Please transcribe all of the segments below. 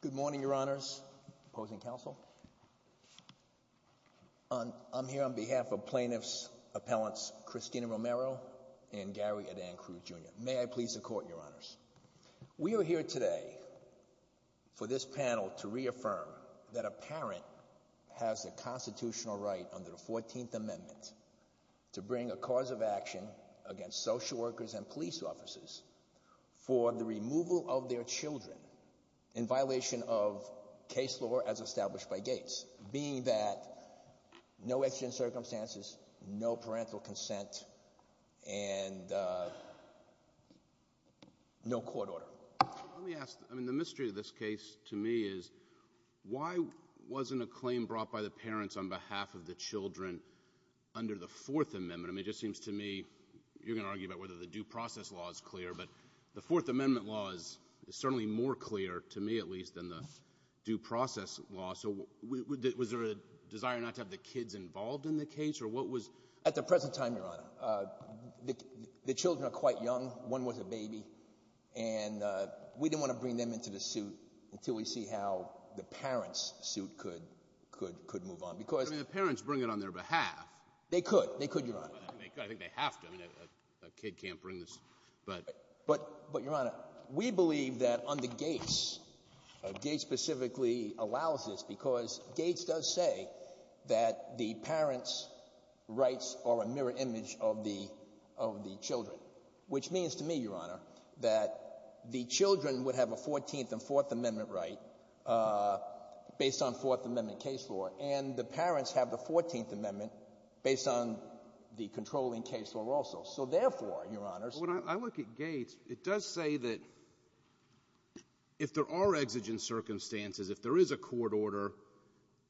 Good morning, your honors, opposing counsel. I'm here on behalf of plaintiffs' appellants Christina Romero and Gary Adan Cruz Jr. May I please the court, your honors. We are here today for this panel to reaffirm that a parent has a constitutional right under the 14th Amendment to bring a cause of action against social workers and police officers for the removal of their children in violation of case law as established by Gates, being that no exigent circumstances, no parental consent, and no court order. Let me ask, the mystery of this case to me is why wasn't a claim brought by the parents on behalf of the children under the 4th Amendment. It just seems to me, you're going to argue about whether the due process law is clear, but the 4th Amendment law is certainly more clear to me at least than the due process law. So was there a desire not to have the kids involved in the case or what was At the present time, your honor, the children are quite young. One was a baby and we didn't want to bring them into the suit until we see how the parents' suit could move on. I mean, the parents bring it on their behalf. They could, your honor. I think they have to. I mean, a kid can't bring this. But your honor, we believe that under Gates, Gates specifically allows this because Gates does say that the parents' rights are a mirror image of the children, which means to me, your honor, that the children would have a 14th and 4th Amendment right based on 4th Amendment case law, and the parents have the 14th Amendment based on the controlling case law also. So therefore, your honors, When I look at Gates, it does say that if there are exigent circumstances, if there is a court order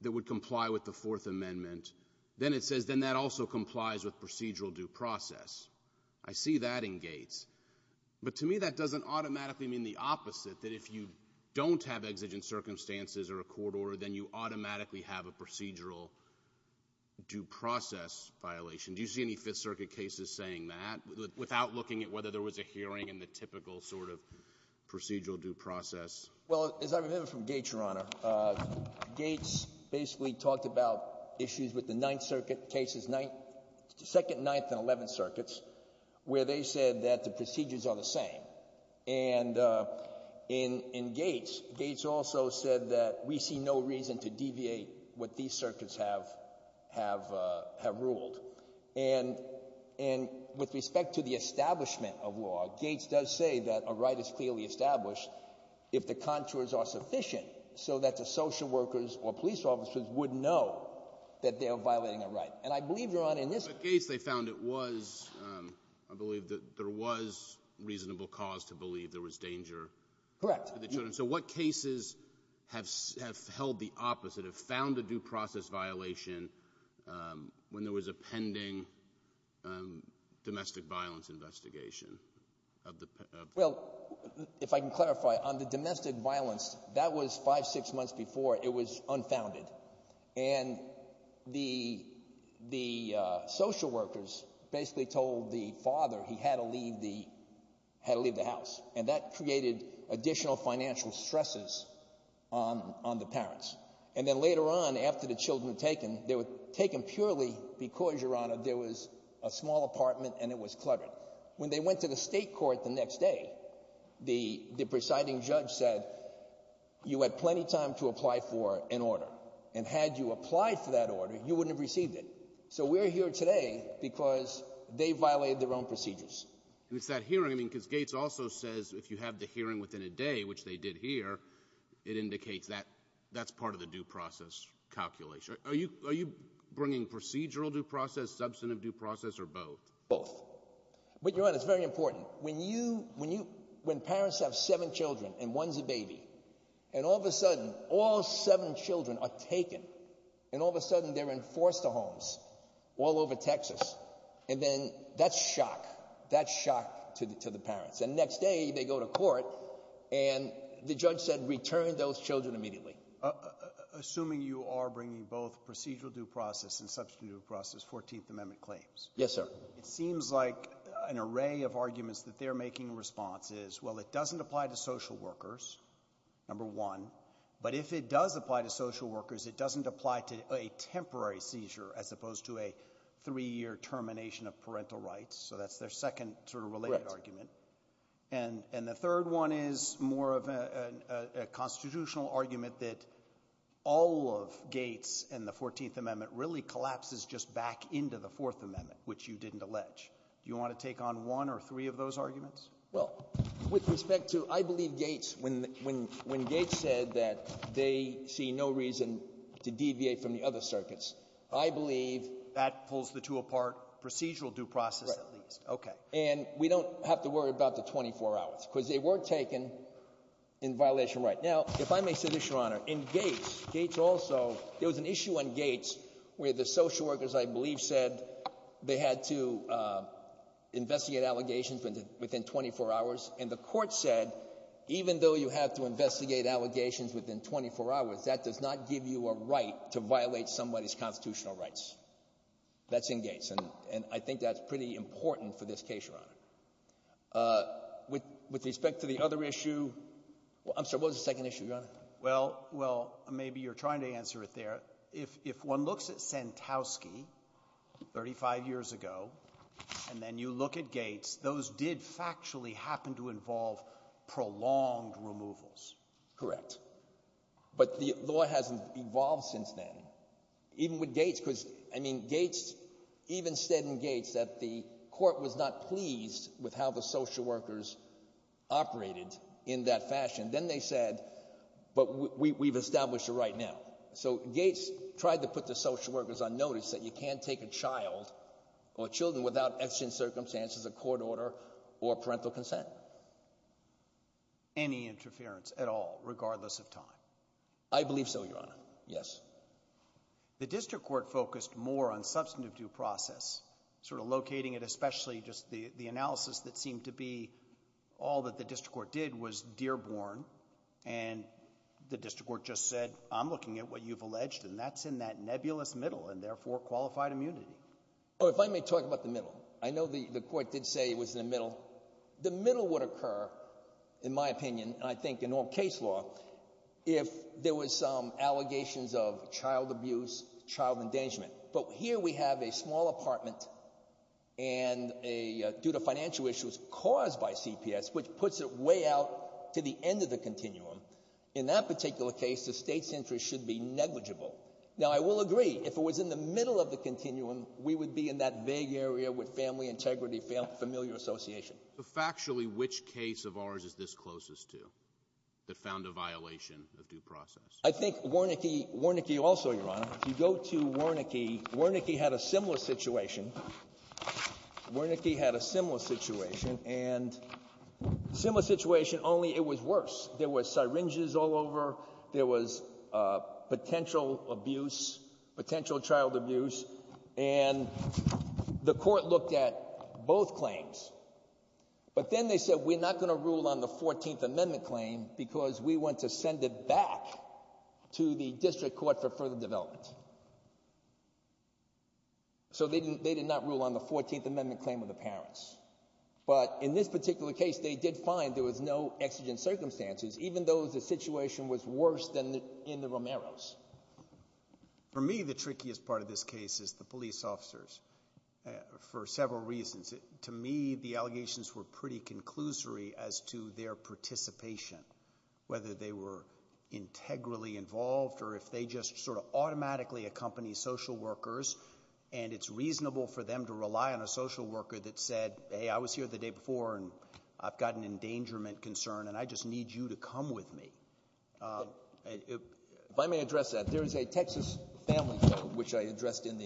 that would comply with the 4th Amendment, then it says then that also But to me, that doesn't automatically mean the opposite, that if you don't have exigent circumstances or a court order, then you automatically have a procedural due process violation. Do you see any 5th Circuit cases saying that without looking at whether there was a hearing in the typical sort of procedural due process? Well, as I remember from Gates, your honor, Gates basically talked about issues with the 9th Circuit cases, 2nd, 9th, and 11th Circuits, where they said that the procedures are the same, and in Gates, Gates also said that we see no reason to deviate what these circuits have ruled, and with respect to the establishment of law, Gates does say that a right is clearly established if the contours are sufficient so that the social workers or police officers would know that they are violating a right, and I believe, your honor, In the Gates case, they found it was, I believe that there was reasonable cause to believe there was danger to the children. So what cases have held the opposite, have found a due process violation when there was a pending domestic violence investigation? Well, if I can clarify, on the domestic violence, that was 5, 6 months before it was unfounded, and the social workers basically told the father he had to leave the house, and that created additional financial stresses on the parents. And then later on, after the children were taken, they were taken purely because, your honor, there was a small apartment and it was cluttered. When they went to the state court the next day, the presiding judge said, you had plenty of time to apply for an order. And had you applied for that order, you wouldn't have received it. So we're here today because they violated their own procedures. And it's that hearing, I mean, because Gates also says if you have the hearing within a day, which they did here, it indicates that that's part of the due process calculation. Are you bringing procedural due process, substantive due process, or both? Both. But, your honor, it's very important. When you, when parents have seven children and one's a baby, and all of a sudden, all seven children are taken, and all of a sudden they're in foster homes all over Texas, and then that's shock. That's shock to the parents. And the next day, they go to court, and the judge said, return those children immediately. Assuming you are bringing both procedural due process and substantive due process 14th Amendment claims. Yes, sir. It seems like an array of arguments that they're making in response is, well, it doesn't apply to social workers, number one. But if it does apply to social workers, it doesn't apply to a temporary seizure, as opposed to a three-year termination of parental rights. So that's their second sort of related argument. And the third one is more of a constitutional argument that all of Gates and the 14th Amendment really collapses just back into the Fourth Amendment, which you didn't allege. Do you want to take on one or three of those arguments? Well, with respect to, I believe Gates, when Gates said that they see no reason to deviate from the other circuits, I believe... That pulls the two apart, procedural due process at least. Right. Okay. And we don't have to worry about the 24 hours, because they were taken in violation right. Now, if I may say this, Your Honor, in Gates, Gates also, there was an issue on Gates where the social workers, I believe, said they had to investigate allegations within 24 hours. And the court said, even though you have to investigate allegations within 24 hours, that does not give you a right to violate somebody's constitutional rights. That's in Gates. And I think that's pretty important for this case, Your Honor. With respect to the other issue, I'm sorry, what was the second issue, Your Honor? Well, maybe you're trying to answer it there. If one looks at Sentowski, 35 years ago, and then you look at Gates, those did factually happen to involve prolonged removals. Correct. But the law hasn't evolved since then, even with Gates, because Gates even said in Gates that the court was not pleased with how the social workers operated in that fashion. Then they said, but we've established a right now. So Gates tried to put the social workers on notice that you can't take a child or children without exigent circumstances, a court order, or parental consent. Any interference at all, regardless of time? I believe so, Your Honor, yes. The district court focused more on substantive due process, sort of locating it, especially just the analysis that seemed to be all that the district court did was Dearborn. And the district court just said, I'm looking at what you've alleged, and that's in that nebulous middle, and therefore qualified immunity. Oh, if I may talk about the middle. I know the court did say it was in the middle. The middle would occur, in my opinion, and I think in all case law, if there was some child abuse, child endangerment. But here we have a small apartment, and due to financial issues caused by CPS, which puts it way out to the end of the continuum. In that particular case, the state's interest should be negligible. Now I will agree, if it was in the middle of the continuum, we would be in that vague area with family integrity, familial association. So factually, which case of ours is this closest to, that found a violation of due process? I think Wernicke also, Your Honor, if you go to Wernicke, Wernicke had a similar situation. Wernicke had a similar situation, and similar situation, only it was worse. There were syringes all over, there was potential abuse, potential child abuse, and the court looked at both claims. But then they said, we're not going to rule on the 14th Amendment claim because we want to send it back to the district court for further development. So they did not rule on the 14th Amendment claim of the parents. But in this particular case, they did find there was no exigent circumstances, even though the situation was worse than in the Romeros. For me, the trickiest part of this case is the police officers, for several reasons. To me, the allegations were pretty conclusory as to their participation, whether they were integrally involved or if they just sort of automatically accompanied social workers, and it's reasonable for them to rely on a social worker that said, hey, I was here the day before, and I've got an endangerment concern, and I just need you to come with me. If I may address that, there is a Texas Family Code, which I addressed in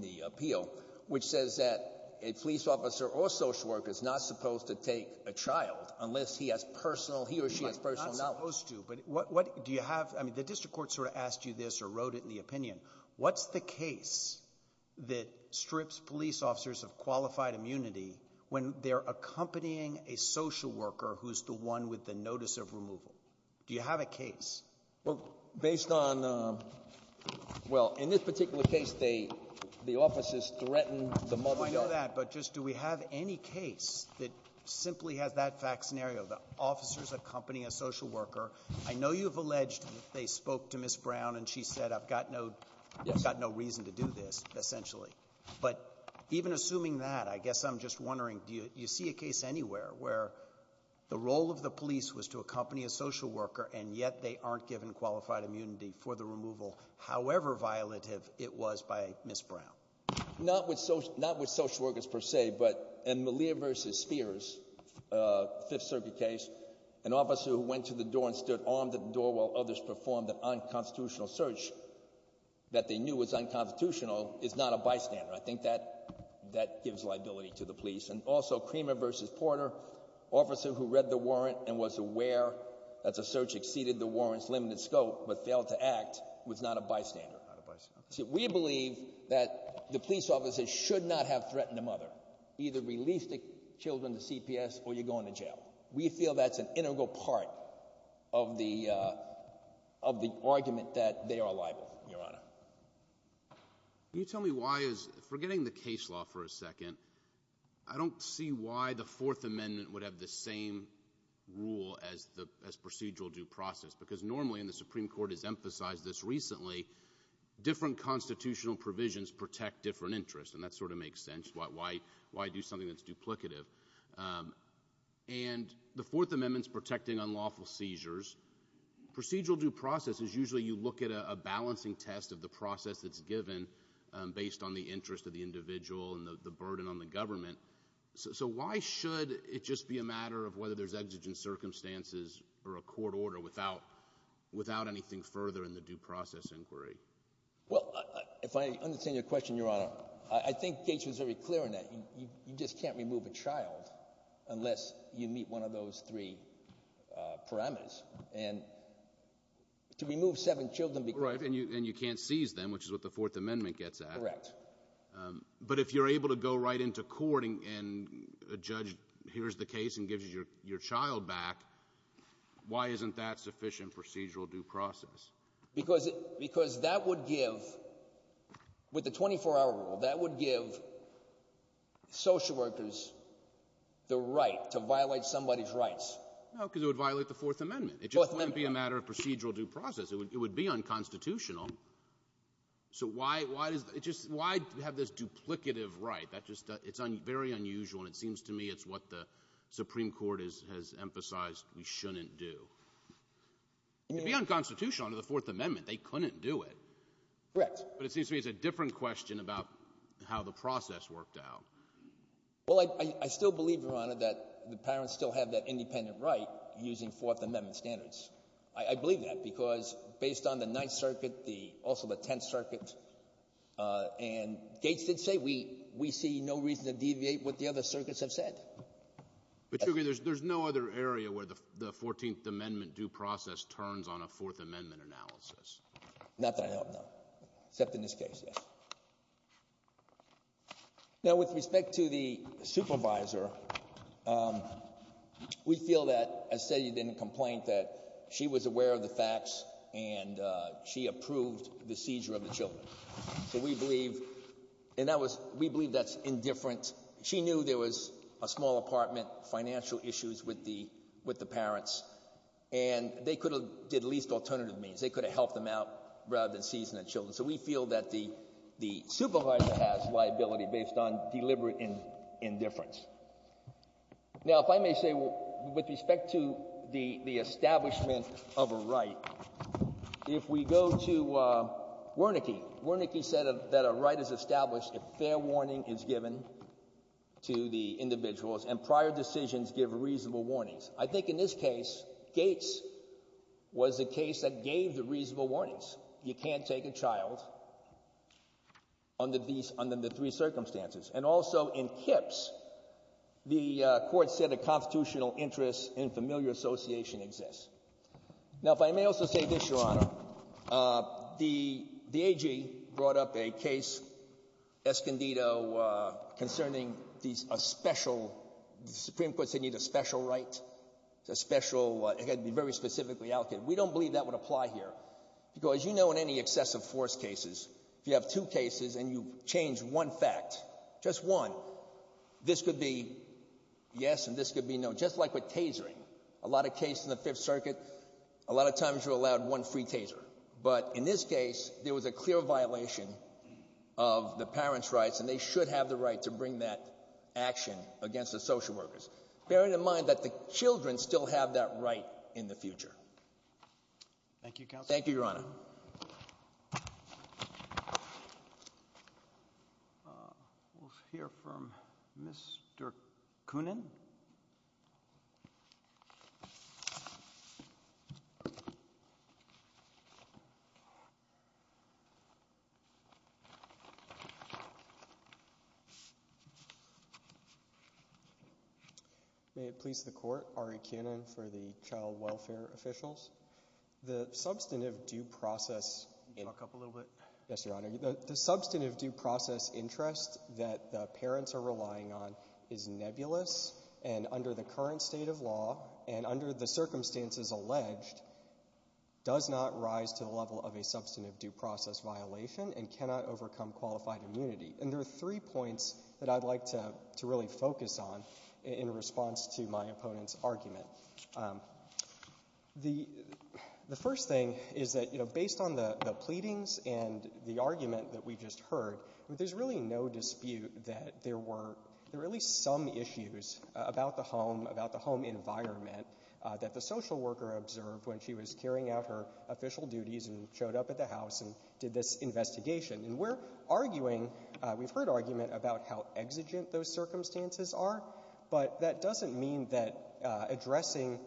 the appeal, which says that a police officer or social worker is not supposed to take a child unless he has personal, he or she has personal knowledge. He's not supposed to, but what, do you have, I mean, the district court sort of asked you this or wrote it in the opinion. What's the case that strips police officers of qualified immunity when they're accompanying a social worker who's the one with the notice of removal? Do you have a case? Well, based on, well, in this particular case, they, the officers threatened the moment that... I know that, but just do we have any case that simply has that fact scenario, the officers accompanying a social worker? I know you've alleged they spoke to Ms. Brown and she said, I've got no, I've got no reason to do this, essentially, but even assuming that, I guess I'm just wondering, do you see a case anywhere where the role of the police was to accompany a social worker and yet they aren't given qualified immunity for the removal, however violative it was by Ms. Brown? Not with social, not with social workers per se, but in Malia versus Spears, uh, Fifth Circuit case, an officer who went to the door and stood armed at the door while others performed an unconstitutional search that they knew was unconstitutional is not a bystander. I think that, that gives liability to the police. And also Creamer versus Porter, officer who read the warrant and was aware that the search exceeded the warrant's limited scope, but failed to act, was not a bystander. We believe that the police officers should not have threatened a mother, either release the children to CPS or you're going to jail. We feel that's an integral part of the, uh, of the argument that they are liable, Your Honor. Can you tell me why is, forgetting the case law for a second, I don't see why the Fourth Amendment's protecting unlawful seizures. Procedural due process. Because normally, and the Supreme Court has emphasized this recently, different constitutional provisions protect different interests. And that sort of makes sense. Why, why, why do something that's duplicative? Um, and the Fourth Amendment's protecting unlawful seizures. Procedural due process is usually you look at a, a balancing test of the process that's given, um, based on the interest of the individual and the, the burden on the government. So, so why should it just be a matter of whether there's exigent circumstances or a court order I don't know. I don't know. I don't know. I don't know. I don't know. I'd like to know why the Fourth Amendment is not protecting unlawful seizures. When does it, your Honor, when does it violate that sufficient procedural due process? Because, because that would give, with the 24 hour rule, that would give social workers the right to violate somebody's rights. No, because it would violate the Fourth Amendment. Fourth Amendment. It just wouldn't be a matter of procedural due process. It would be unconstitutional. So why, why does it just, why have this duplicative right? That just, it's very unusual, and it seems to me it's what the Supreme Court has, has emphasized we shouldn't do. Okay. Any questions? No. It would be unconstitutional under the Fourth Amendment. They couldn't do it. Correct. But it seems to me it's a different question about how the process worked out. Well, I, I still believe, your Honor, that the parents still have that independent right using Fourth Amendment standards. I, I believe that because based on the Ninth Circuit, the, also the Tenth Circuit, and Gates did say, we, we see no reason to deviate what the other circuits have said. But you agree there's, there's no other area where the, the Fourteenth Amendment due process turns on a Fourth Amendment analysis? Not that I know of, no. Except in this case, yes. Now, with respect to the supervisor, we feel that, as said, you didn't complain that she was aware of the facts and she approved the seizure of the children. So we believe, and that was, we believe that's indifferent. She knew there was a small apartment, financial issues with the, with the parents, and they could have did at least alternative means. They could have helped them out rather than seizing the children. So we feel that the, the supervisor has liability based on deliberate indifference. Now, if I may say, with respect to the, the establishment of a right, if we go to Wernicke, Wernicke said that a right is established if fair warning is given to the individuals and prior decisions give reasonable warnings. I think in this case, Gates was the case that gave the reasonable warnings. You can't take a child under these, under the three circumstances. And also in Kips, the court said a constitutional interest in familiar association exists. Now, if I may also say this, Your Honor, the, the AG brought up a case, Escondido, concerning these, a special, the Supreme Court said you need a special right, a special, it had to be very specifically allocated. We don't believe that would apply here because, you know, in any excessive force cases, if you have two cases and you change one fact, just one, this could be yes and this could be no. And just like with tasering, a lot of cases in the Fifth Circuit, a lot of times you're allowed one free taser. But in this case, there was a clear violation of the parents' rights, and they should have the right to bring that action against the social workers, bearing in mind that the children still have that right in the future. Thank you, Your Honor. Thank you, Your Honor. We'll hear from Mr. Koonin. May it please the Court, Ari Koonin for the Child Welfare officials. The substantive due process interest that the parents are relying on is nebulous and under the current state of law and under the circumstances alleged, does not rise to the level of a substantive due process violation and cannot overcome qualified immunity. And there are three points that I'd like to really focus on in response to my opponent's argument. The first thing is that based on the pleadings and the argument that we just heard, there's really no dispute that there were at least some issues about the home environment that the social worker observed when she was carrying out her official duties and showed up at the house and did this investigation. And we're arguing, we've heard argument about how exigent those circumstances are, but that doesn't mean that addressing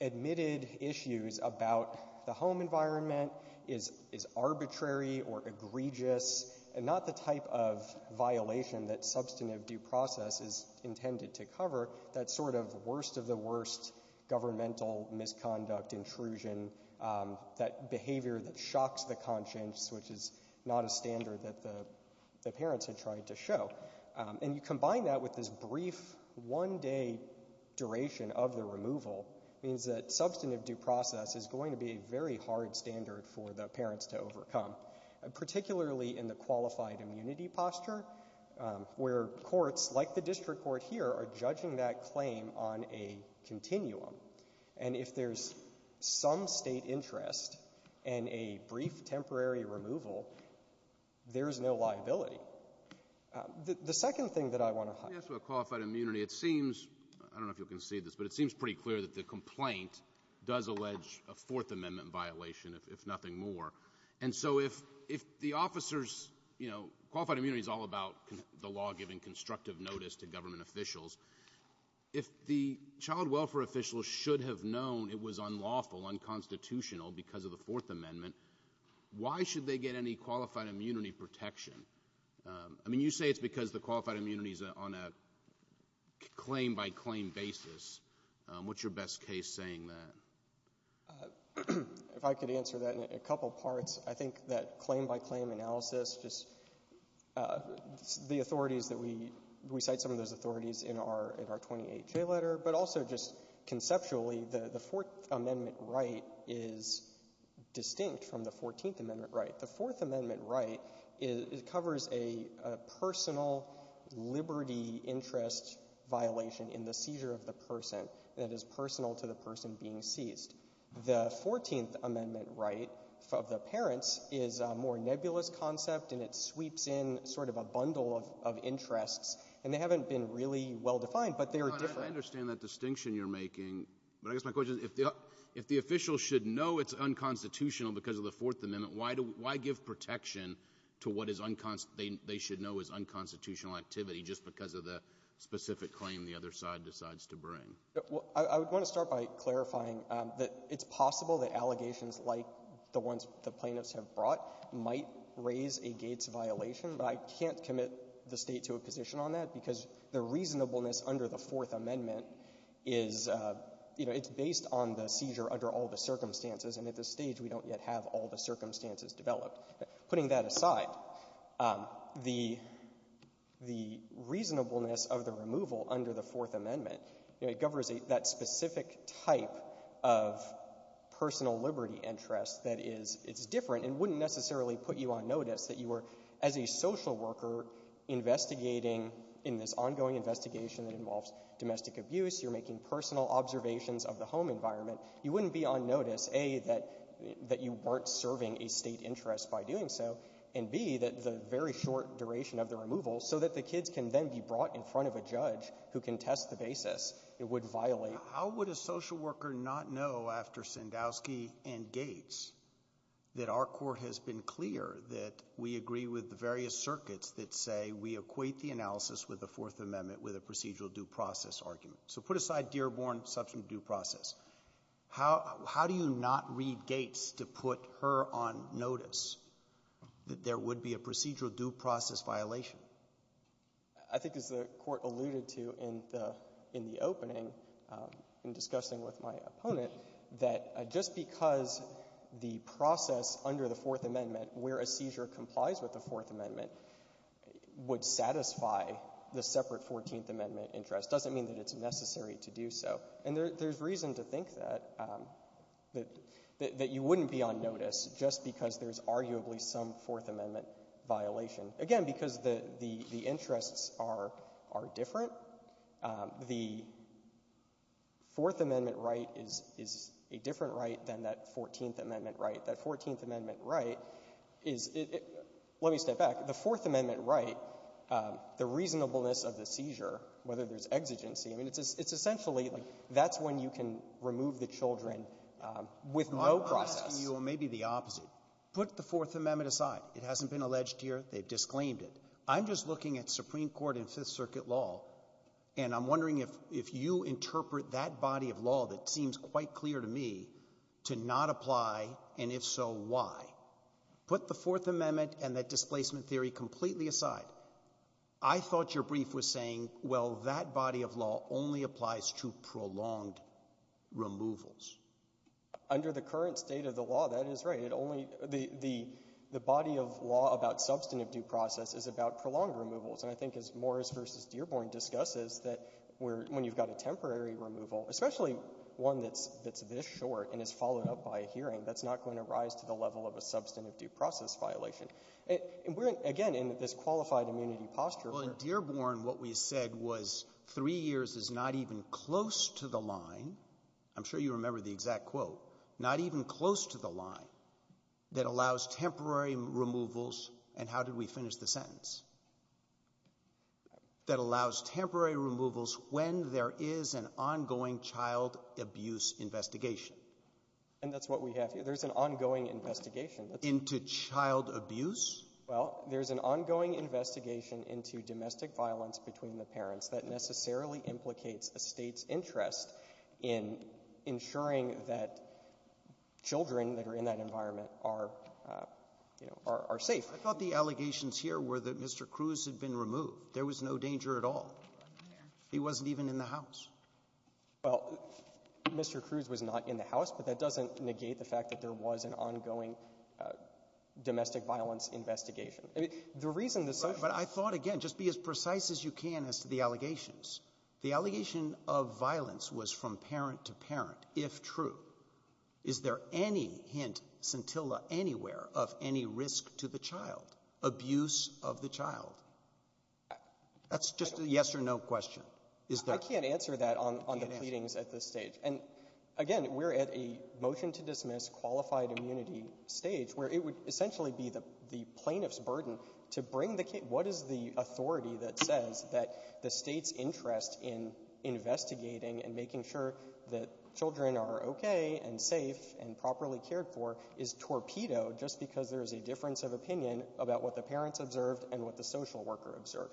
admitted issues about the home environment is arbitrary or egregious and not the type of violation that substantive due process is intended to cover, that sort of worst of the worst governmental misconduct, intrusion, that behavior that shocks the conscience, which is not a standard that the parents had tried to show. And you combine that with this brief one-day duration of the removal, means that substantive due process is going to be a very hard standard for the parents to overcome, particularly in the qualified immunity posture, where courts like the district court here are judging that claim on a continuum. And if there's some state interest in a brief temporary removal, there's no liability. The second thing that I want to highlight. Let me ask about qualified immunity. It seems, I don't know if you can see this, but it seems pretty clear that the complaint does allege a Fourth Amendment violation, if nothing more. And so if the officers, you know, qualified immunity is all about the law giving constructive notice to government officials. If the child welfare officials should have known it was unlawful, unconstitutional because of the Fourth Amendment, why should they get any qualified immunity protection? I mean, you say it's because the qualified immunity is on a claim-by-claim basis. What's your best case saying that? If I could answer that in a couple parts, I think that claim-by-claim analysis, just the authorities that we cite, some of those authorities in our 28-J letter, but also just conceptually, the Fourth Amendment right is distinct from the Fourteenth Amendment right. The Fourth Amendment right covers a personal liberty interest violation in the seizure of the person that is personal to the person being seized. The Fourteenth Amendment right of the parents is a more nebulous concept, and it sweeps in sort of a bundle of interests. And they haven't been really well-defined, but they are different. Well, I understand that distinction you're making. But I guess my question is, if the official should know it's unconstitutional because of the Fourth Amendment, why give protection to what is unconstitutional they should know is unconstitutional activity just because of the specific claim the other side decides to bring? Well, I would want to start by clarifying that it's possible that allegations like the ones the plaintiffs have brought might raise a Gates violation, but I can't limit the State to a position on that because the reasonableness under the Fourth Amendment is, you know, it's based on the seizure under all the circumstances, and at this stage we don't yet have all the circumstances developed. Putting that aside, the reasonableness of the removal under the Fourth Amendment, you know, it governs that specific type of personal liberty interest that is different and wouldn't necessarily put you on notice that you were, as a social worker, investigating in this ongoing investigation that involves domestic abuse, you're making personal observations of the home environment. You wouldn't be on notice, A, that you weren't serving a State interest by doing so, and B, that the very short duration of the removal, so that the kids can then be brought in front of a judge who can test the basis, it would violate. How would a social worker not know after Sandowski and Gates that our Court has been clear that we agree with the various circuits that say we equate the analysis with the Fourth Amendment with a procedural due process argument? So put aside Dearborn, substantive due process. How do you not read Gates to put her on notice that there would be a procedural due process violation? I think as the Court alluded to in the opening in discussing with my opponent, that just because the process under the Fourth Amendment where a seizure complies with the Fourth Amendment would satisfy the separate Fourteenth Amendment interest doesn't mean that it's necessary to do so. And there's reason to think that you wouldn't be on notice just because there's arguably some Fourth Amendment violation. Again, because the interests are different, the Fourth Amendment right is a different right than that Fourteenth Amendment right. That Fourteenth Amendment right is — let me step back. The Fourth Amendment right, the reasonableness of the seizure, whether there's exigency, I mean, it's essentially like that's when you can remove the children with no process. I'm asking you maybe the opposite. Put the Fourth Amendment aside. It hasn't been alleged here. They've disclaimed it. I'm just looking at Supreme Court and Fifth Circuit law, and I'm wondering if you interpret that body of law that seems quite clear to me to not apply, and if so, why? Put the Fourth Amendment and that displacement theory completely aside. I thought your brief was saying, well, that body of law only applies to prolonged removals. Under the current state of the law, that is right. The body of law about substantive due process is about prolonged removals. And I think as Morris v. Dearborn discusses that when you've got a temporary removal, especially one that's this short and is followed up by a hearing, that's not going to rise to the level of a substantive due process violation. And we're, again, in this qualified immunity posture. Well, in Dearborn, what we said was three years is not even close to the line. I'm sure you remember the exact quote. Not even close to the line that allows temporary removals. And how did we finish the sentence? That allows temporary removals when there is an ongoing child abuse investigation. And that's what we have here. There's an ongoing investigation. Into child abuse? I thought the allegations here were that Mr. Cruz had been removed. There was no danger at all. He wasn't even in the house. Well, Mr. Cruz was not in the house. But that doesn't negate the fact that there was an ongoing domestic violence investigation. But I thought, again, just be as precise as you can as to the allegations. The allegation of violence was from parent to parent, if true. Is there any hint, scintilla anywhere, of any risk to the child, abuse of the child? That's just a yes or no question. I can't answer that on the pleadings at this stage. And, again, we're at a motion-to-dismiss qualified immunity stage where it would essentially be the plaintiff's burden to bring the case. What is the authority that says that the state's interest in investigating and making sure that children are okay and safe and properly cared for is torpedoed just because there is a difference of opinion about what the parents observed and what the social worker observed?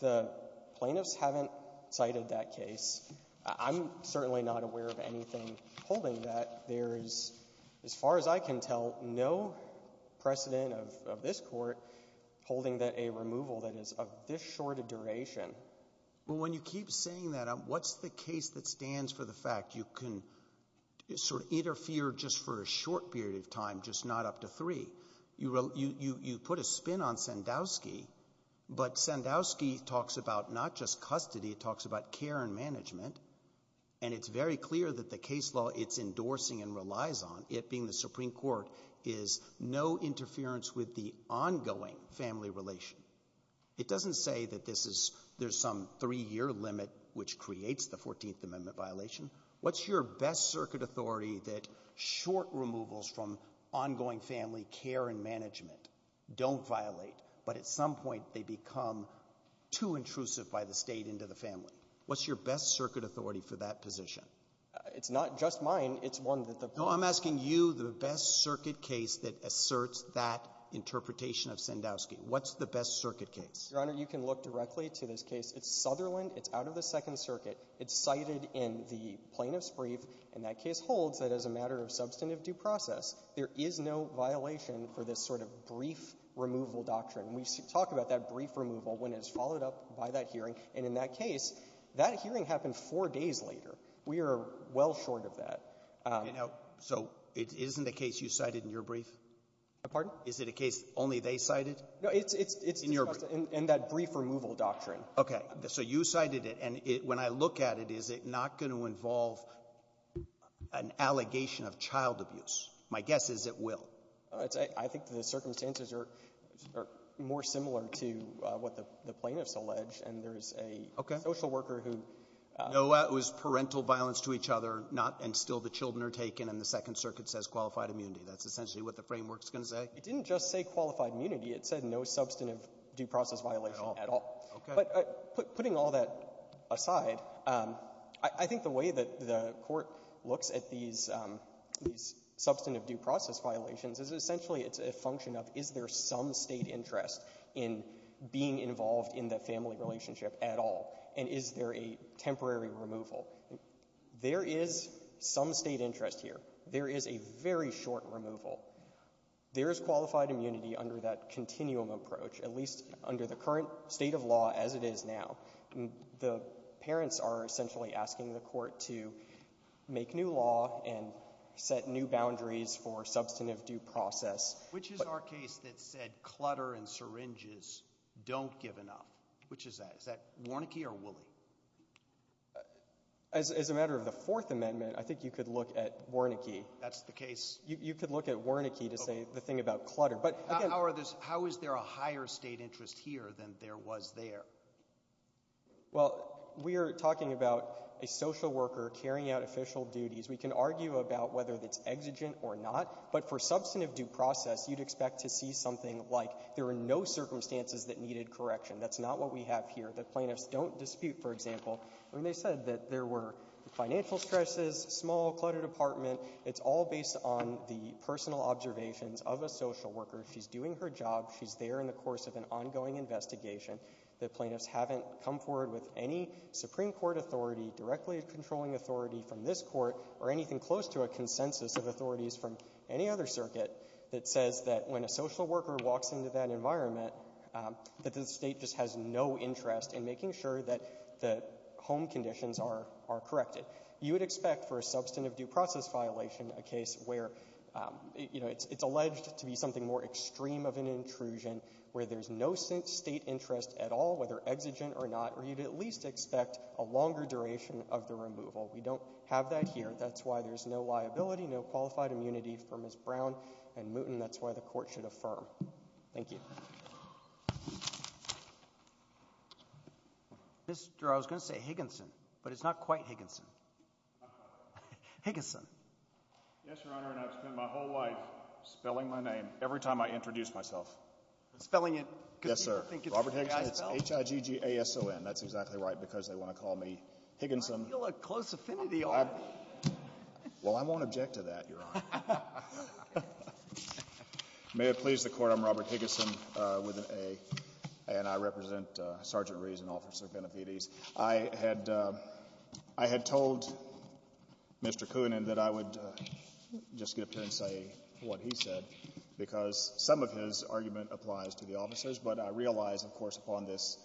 The plaintiffs haven't cited that case. I'm certainly not aware of anything holding that. There is, as far as I can tell, no precedent of this court holding that a removal that is of this short a duration. Well, when you keep saying that, what's the case that stands for the fact you can sort of interfere just for a short period of time, just not up to three? You put a spin on Sandowski, but Sandowski talks about not just custody. It talks about care and management. And it's very clear that the case law it's endorsing and relies on, it being the Supreme Court, is no interference with the ongoing family relation. It doesn't say that there's some three-year limit, which creates the 14th Amendment violation. What's your best circuit authority that short removals from ongoing family care and management don't violate, but at some point they become too intrusive by the state into the family? What's your best circuit authority for that position? It's not just mine. It's one that the ---- No, I'm asking you the best circuit case that asserts that interpretation of Sandowski. What's the best circuit case? Your Honor, you can look directly to this case. It's Sutherland. It's out of the Second Circuit. It's cited in the plaintiff's brief. And that case holds that as a matter of substantive due process, there is no violation for this sort of brief removal doctrine. We talk about that brief removal when it's followed up by that hearing. And in that case, that hearing happened four days later. We are well short of that. You know, so it isn't a case you cited in your brief? Pardon? Is it a case only they cited? No, it's just in that brief removal doctrine. Okay. So you cited it. And when I look at it, is it not going to involve an allegation of child abuse? My guess is it will. I think the circumstances are more similar to what the plaintiffs allege. And there is a social worker who — Okay. Noah, it was parental violence to each other, not, and still the children are taken and the Second Circuit says qualified immunity. That's essentially what the framework is going to say? It didn't just say qualified immunity. It said no substantive due process violation at all. Okay. But putting all that aside, I think the way that the Court looks at these substantive due process violations is essentially it's a function of is there some State interest in being involved in the family relationship at all? And is there a temporary removal? There is some State interest here. There is a very short removal. There is qualified immunity under that continuum approach, at least under the current state of law as it is now. The parents are essentially asking the Court to make new law and set new boundaries for substantive due process. Which is our case that said clutter and syringes don't give enough? Which is that? Is that Warnecke or Woolley? As a matter of the Fourth Amendment, I think you could look at Warnecke. That's the case? You could look at Warnecke to say the thing about clutter. How is there a higher State interest here than there was there? Well, we are talking about a social worker carrying out official duties. We can argue about whether it's exigent or not. But for substantive due process, you would expect to see something like there were no circumstances that needed correction. That's not what we have here. The plaintiffs don't dispute, for example, when they said that there were financial stresses, small, cluttered apartment. It's all based on the personal observations of a social worker. She's doing her job. She's there in the course of an ongoing investigation. The plaintiffs haven't come forward with any Supreme Court authority, directly controlling authority from this Court or anything close to a consensus of authorities from any other circuit that says that when a social worker walks into that environment that the State just has no interest in making sure that the home conditions are corrected. You would expect for a substantive due process violation a case where, you know, it's alleged to be something more extreme of an intrusion, where there's no State interest at all, whether exigent or not, or you'd at least expect a longer duration of the removal. We don't have that here. That's why there's no liability, no qualified immunity for Ms. Brown and Mouton. That's why the Court should affirm. Thank you. MR. HIGGINSON. Mr. – I was going to say Higginson, but it's not quite Higginson. Higginson. MR. ROBERTSON. Yes, Your Honor, and I've spent my whole life spelling my name every time I introduce myself. MR. HIGGINSON. Robert Higginson. It's H-I-G-G-A-S-O-N. That's exactly right because they want to call me Higginson. MR. ROBERTSON. You're a close affinity, aren't you? MR. HIGGINSON. Well, I won't object to that, Your Honor. MR. ROBERTSON. Okay. MR. HIGGINSON. May it please the Court, I'm Robert Higginson with an A, and I represent Sergeant Rees and Officer Benefides. I had told Mr. Koonin that I would just get up here and say what he said because some of his argument applies to the officers, but I realize, of course, upon this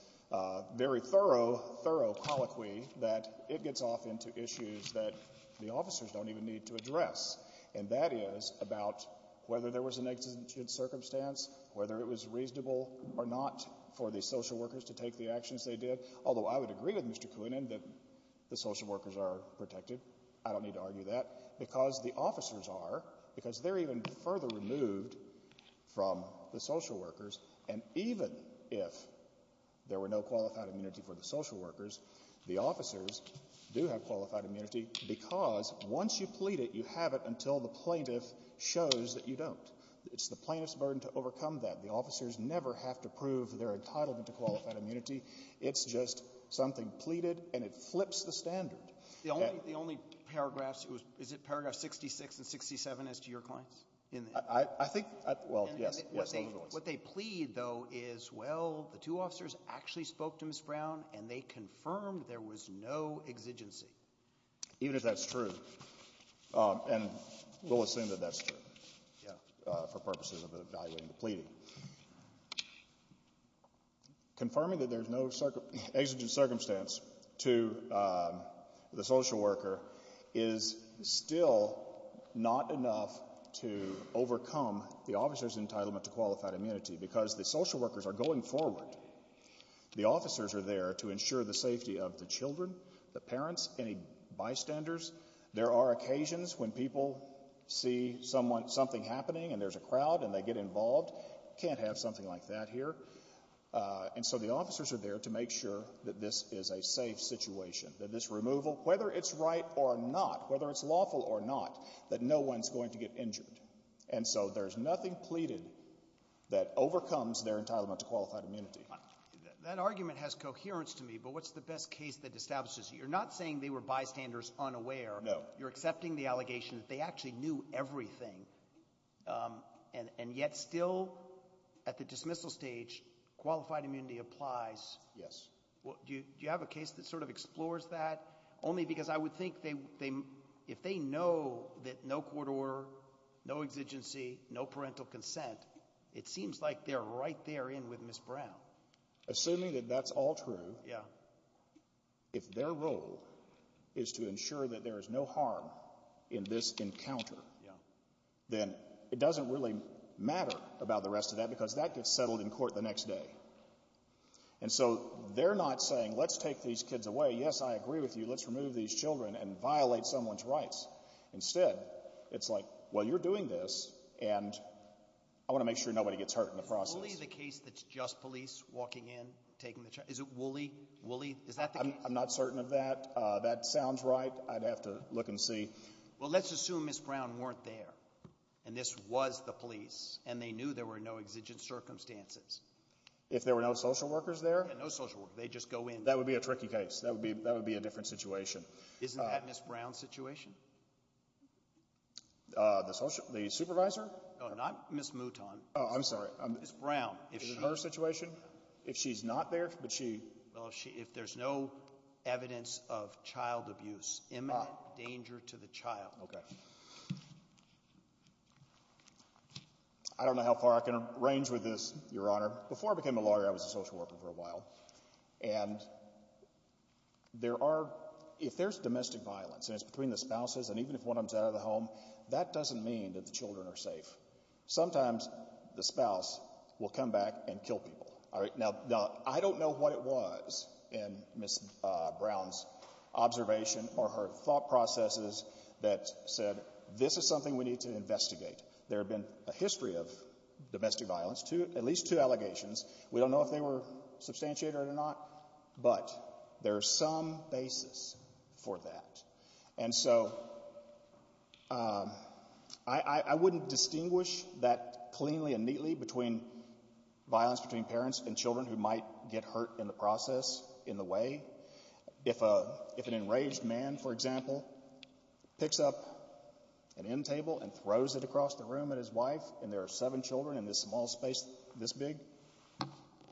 very thorough, thorough colloquy that it gets off into issues that the officers don't even need to address, and that is about whether there was an exigent circumstance, whether it was reasonable or not for the social workers to take the actions they did, although I would agree with Mr. Koonin that the social workers are protected. I don't need to argue that because the officers are because they're even further removed from the social workers, and even if there were no qualified immunity for the social workers, the officers do have qualified immunity because once you plead it, you have it until the plaintiff shows that you don't. It's the plaintiff's burden to overcome that. The officers never have to prove their entitlement to qualified immunity. It's just something pleaded, and it flips the standard. MR. ROBERTSON. The only paragraphs, is it paragraph 66 and 67 as to your claims? MR. KOONIN. Yes, those are the ones. MR. ROBERTSON. What they plead, though, is, well, the two officers actually spoke to Ms. Brown, and they confirmed there was no exigency. MR. KOONIN. Even if that's true, and we'll assume that that's true for purposes of evaluating the pleading. Confirming that there's no exigent circumstance to the social worker is still not enough to have qualified immunity because the social workers are going forward. The officers are there to ensure the safety of the children, the parents, any bystanders. There are occasions when people see something happening, and there's a crowd, and they get involved. You can't have something like that here. And so the officers are there to make sure that this is a safe situation, that this removal, whether it's right or not, whether it's lawful or not, that no one's going to get injured. And so there's nothing pleaded that overcomes their entitlement to qualified immunity. ROBERTSON. That argument has coherence to me, but what's the best case that establishes it? You're not saying they were bystanders unaware. KOONIN. No. MR. ROBERTSON. You're accepting the allegation that they actually knew everything, and yet still, at the dismissal stage, qualified immunity applies. MR. KOONIN. Yes. MR. ROBERTSON. Do you have a case that sort of explores that? Only because I would think if they know that no court order, no exigency, no parental consent, it seems like they're right there in with Ms. Brown. KOONIN. Assuming that that's all true, if their role is to ensure that there is no harm in this encounter, then it doesn't really matter about the rest of that because that gets settled in court the next day. And so they're not saying, let's take these kids away. Yes, I agree with you. Let's remove these children and violate someone's rights. Instead, it's like, well, you're doing this, and I want to make sure nobody gets hurt in MR. ROBERTSON. Is Wooley the case that's just police walking in, taking the child? Is it Wooley? Wooley? Is that the case? MR. I'm not certain of that. That sounds right. I'd have to look and see. MR. ROBERTSON. Well, let's assume Ms. Brown weren't there, and this was the police, and they knew there were no exigent circumstances. ROBERTSON. If there were no social workers there? MR. ROBERTSON. Yeah, no social workers. They just go in. MR. That would be a tricky case. That would be a different situation. MR. ROBERTSON. Isn't that Ms. Brown's situation? MR. ROBERTSON. MR. No, not Ms. Mouton. MR. ROBERTSON. Oh, I'm sorry. MR. ROBERTSON. Ms. Brown. MR. ROBERTSON. Ms. Brown. ROBERTSON. Is it her situation? If she's not there, but she... MR. ROBERTSON. Well, if there's no evidence of child abuse. Imminent danger to the child. MR. ROBERTSON. Okay. I don't know how far I can arrange with this, Your Honor. Before I became a lawyer, I was a social worker for a while, and there are... if there's domestic violence, and it's between the spouses, and even if one of them is out of the home, that doesn't mean that the children are safe. Sometimes the spouse will come back and kill people. All right? Now, I don't know what it was in Ms. Brown's observation or her thought processes that said, this is something we need to investigate. There have been a history of domestic violence, at least two allegations. We don't know if they were substantiated or not, but there's some basis for that. And so I wouldn't distinguish that cleanly and neatly between violence between parents and children who might get hurt in the process, in the way. If an enraged man, for example, picks up an end table and throws it across the room at his wife, and there are seven children in this small space this big,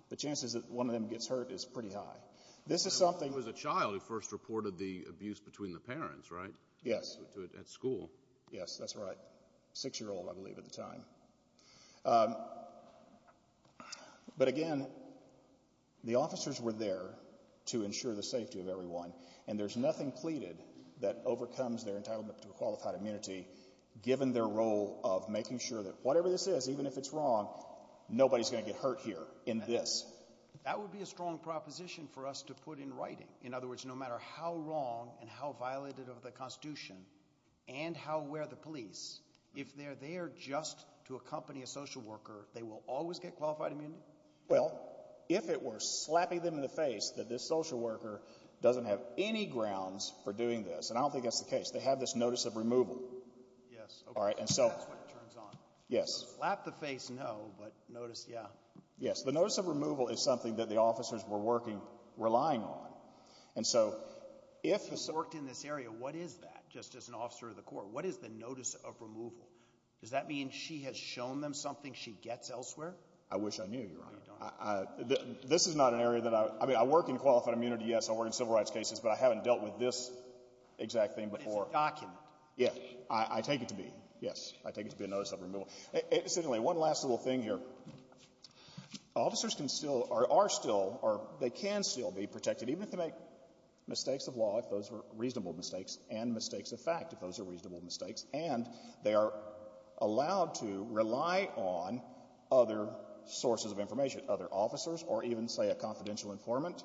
the chances that one of them gets hurt is pretty high. This is something... MR. BROOKS Yes, that's right. Six-year-old, I believe, at the time. But again, the officers were there to ensure the safety of everyone, and there's nothing pleaded that overcomes their entitlement to a qualified immunity, given their role of making sure that whatever this is, even if it's wrong, nobody's going to get hurt here in this. MR. BARROWS That would be a strong proposition for us to put in writing. In other words, no matter how wrong and how violated of the Constitution and how aware the police, if they're there just to accompany a social worker, they will always get qualified MR. BROOKS Well, if it were slapping them in the face that this social worker doesn't have any grounds for doing this, and I don't think that's the case, they have this notice of removal. MR. BARROWS Yes, okay. That's what it turns on. MR. BROOKS Yes. MR. BARROWS Slap the face, no, but notice, yeah. MR. BROOKS Yes. MR. BARROWS The notice of removal is something that the officers were working, relying on. And so, if the... MR. BROOKS You've worked in this area. What is that, just as an officer of the court? What is the notice of removal? Does that mean she has shown them something she gets elsewhere? MR. BARROWS I wish I knew, Your Honor. MR. BROOKS No, you don't. MR. BARROWS This is not an area that I, I mean, I work in qualified immunity, yes, I work in civil rights cases, but I haven't dealt with this exact thing before. MR. BROOKS But it's a document. MR. BARROWS Yes. I take it to be, yes. I take it to be a notice of removal. And officers can still, or are still, or they can still be protected, even if they make mistakes of law, if those are reasonable mistakes, and mistakes of fact, if those are reasonable mistakes, and they are allowed to rely on other sources of information, other officers, or even, say, a confidential informant.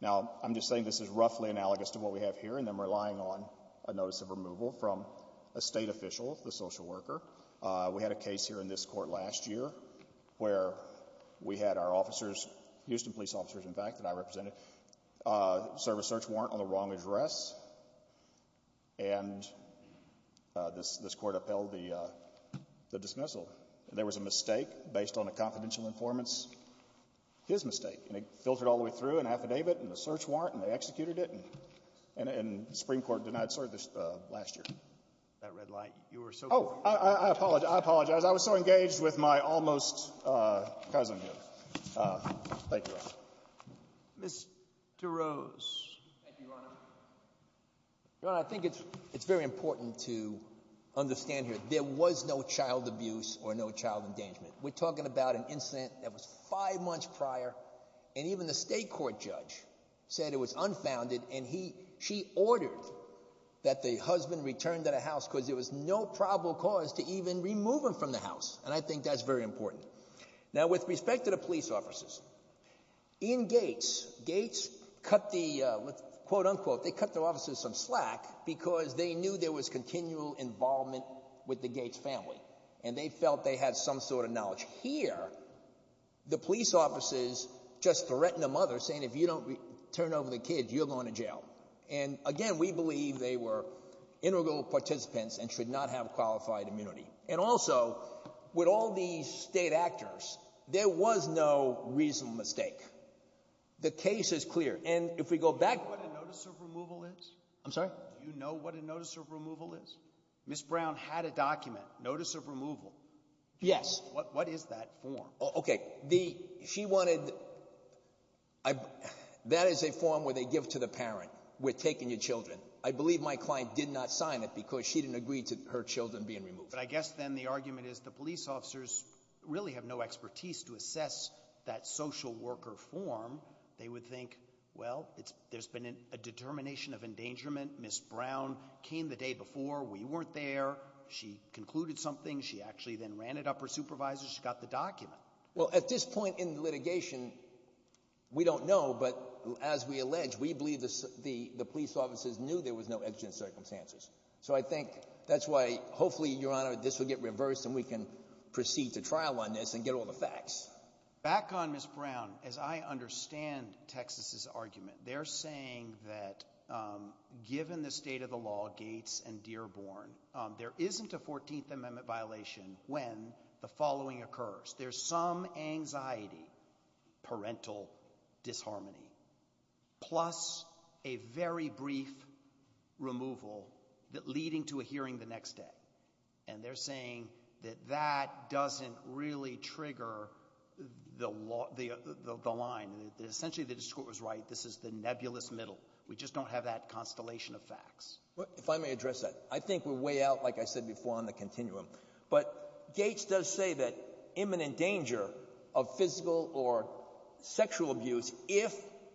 Now I'm just saying this is roughly analogous to what we have here in them relying on a notice of removal from a state official, the social worker. We had a case here in this court last year where we had our officers, Houston police officers, in fact, that I represented, serve a search warrant on the wrong address, and this court upheld the dismissal. There was a mistake based on a confidential informant's, his mistake, and it filtered all the way through an affidavit, and a search warrant, and they executed it, and the Supreme Court denied service last year. MR. LANDRIEU I apologize. I apologize. I was so engaged with my almost-cousin here. Thank you, Your Honor. COOPER Mr. Rose. MR. ROSE Thank you, Your Honor. Your Honor, I think it's very important to understand here, there was no child abuse or no child endangerment. We're talking about an incident that was five months prior, and even the state court judge said it was unfounded, and he, she ordered that the husband returned to the house because there was no probable cause to even remove him from the house, and I think that's very important. Now, with respect to the police officers, in Gates, Gates cut the, quote-unquote, they cut the officers some slack because they knew there was continual involvement with the Gates family, and they felt they had some sort of knowledge. Here, the police officers just threatened the mother, saying, if you don't turn over the kids, you're going to jail, and again, we believe they were integral participants and should not have qualified immunity. And also, with all these state actors, there was no reasonable mistake. The case is clear, and if we go back- MR. BRAUN Do you know what a notice of removal is? MR. ROSE I'm sorry? MR. BRAUN Do you know what a notice of removal is? Ms. Brown had a document, notice of removal. MR. ROSE Yes. MR. BRAUN What is that form? MR. ROSE Okay. The, she wanted, I, that is a form where they give to the parent, we're taking your children. I believe my client did not sign it because she didn't agree to her children being removed. BRAUN But I guess then the argument is the police officers really have no expertise to assess that social worker form. They would think, well, it's, there's been a determination of endangerment, Ms. Brown came the day before, we weren't there, she concluded something, she actually then ran it up her supervisor, she got the document. MR. ROSE Well, at this point in the litigation, we don't know, but as we allege, we believe the, the, the police officers knew there was no exigent circumstances. So I think that's why, hopefully, Your Honor, this will get reversed and we can proceed to trial on this and get all the facts. MR. BRAUN Back on Ms. Brown, as I understand Texas's argument, they're saying that, um, given the state of the law, Gates and Dearborn, um, there isn't a 14th Amendment violation when the following occurs. First, there's some anxiety, parental disharmony, plus a very brief removal that leading to a hearing the next day. And they're saying that that doesn't really trigger the law, the, the, the line, that essentially the discourse was right, this is the nebulous middle. We just don't have that constellation of facts. MR. TURNER If I may address that. I think we're way out, like I said before, on the continuum. But Gates does say that imminent danger of physical or sexual abuse if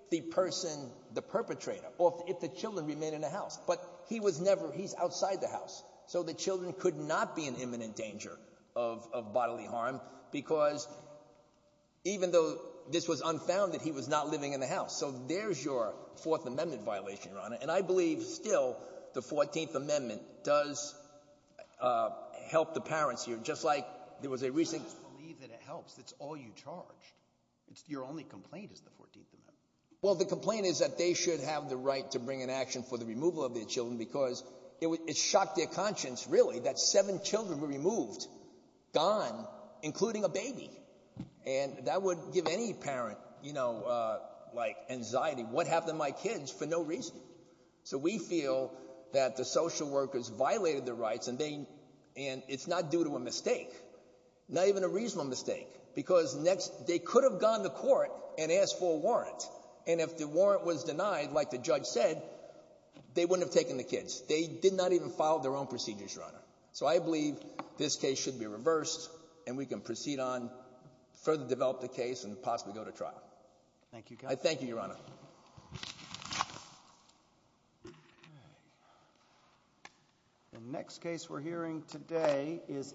the person, the perpetrator, or if the children remain in the house. But he was never, he's outside the house. So the children could not be in imminent danger of, of bodily harm because even though this was unfounded, he was not living in the house. So there's your Fourth Amendment violation, Your Honor. And I believe still the 14th Amendment does help the parents here. Just like there was a recent... MR. TURNER I just believe that it helps. It's all you charged. It's, your only complaint is the 14th Amendment. MR. TURNER Well, the complaint is that they should have the right to bring an action for the removal of their children because it, it shocked their conscience, really, that seven children were removed, gone, including a baby. And that would give any parent, you know, like anxiety. What happened to my kids for no reason? So we feel that the social workers violated their rights and they, and it's not due to a mistake, not even a reasonable mistake, because next, they could have gone to court and asked for a warrant. And if the warrant was denied, like the judge said, they wouldn't have taken the kids. They did not even follow their own procedures, Your Honor. So I believe this case should be reversed and we can proceed on, further develop the MR. TURNER Thank you, Counsel. MR. MR. TURNER The next case we're hearing today is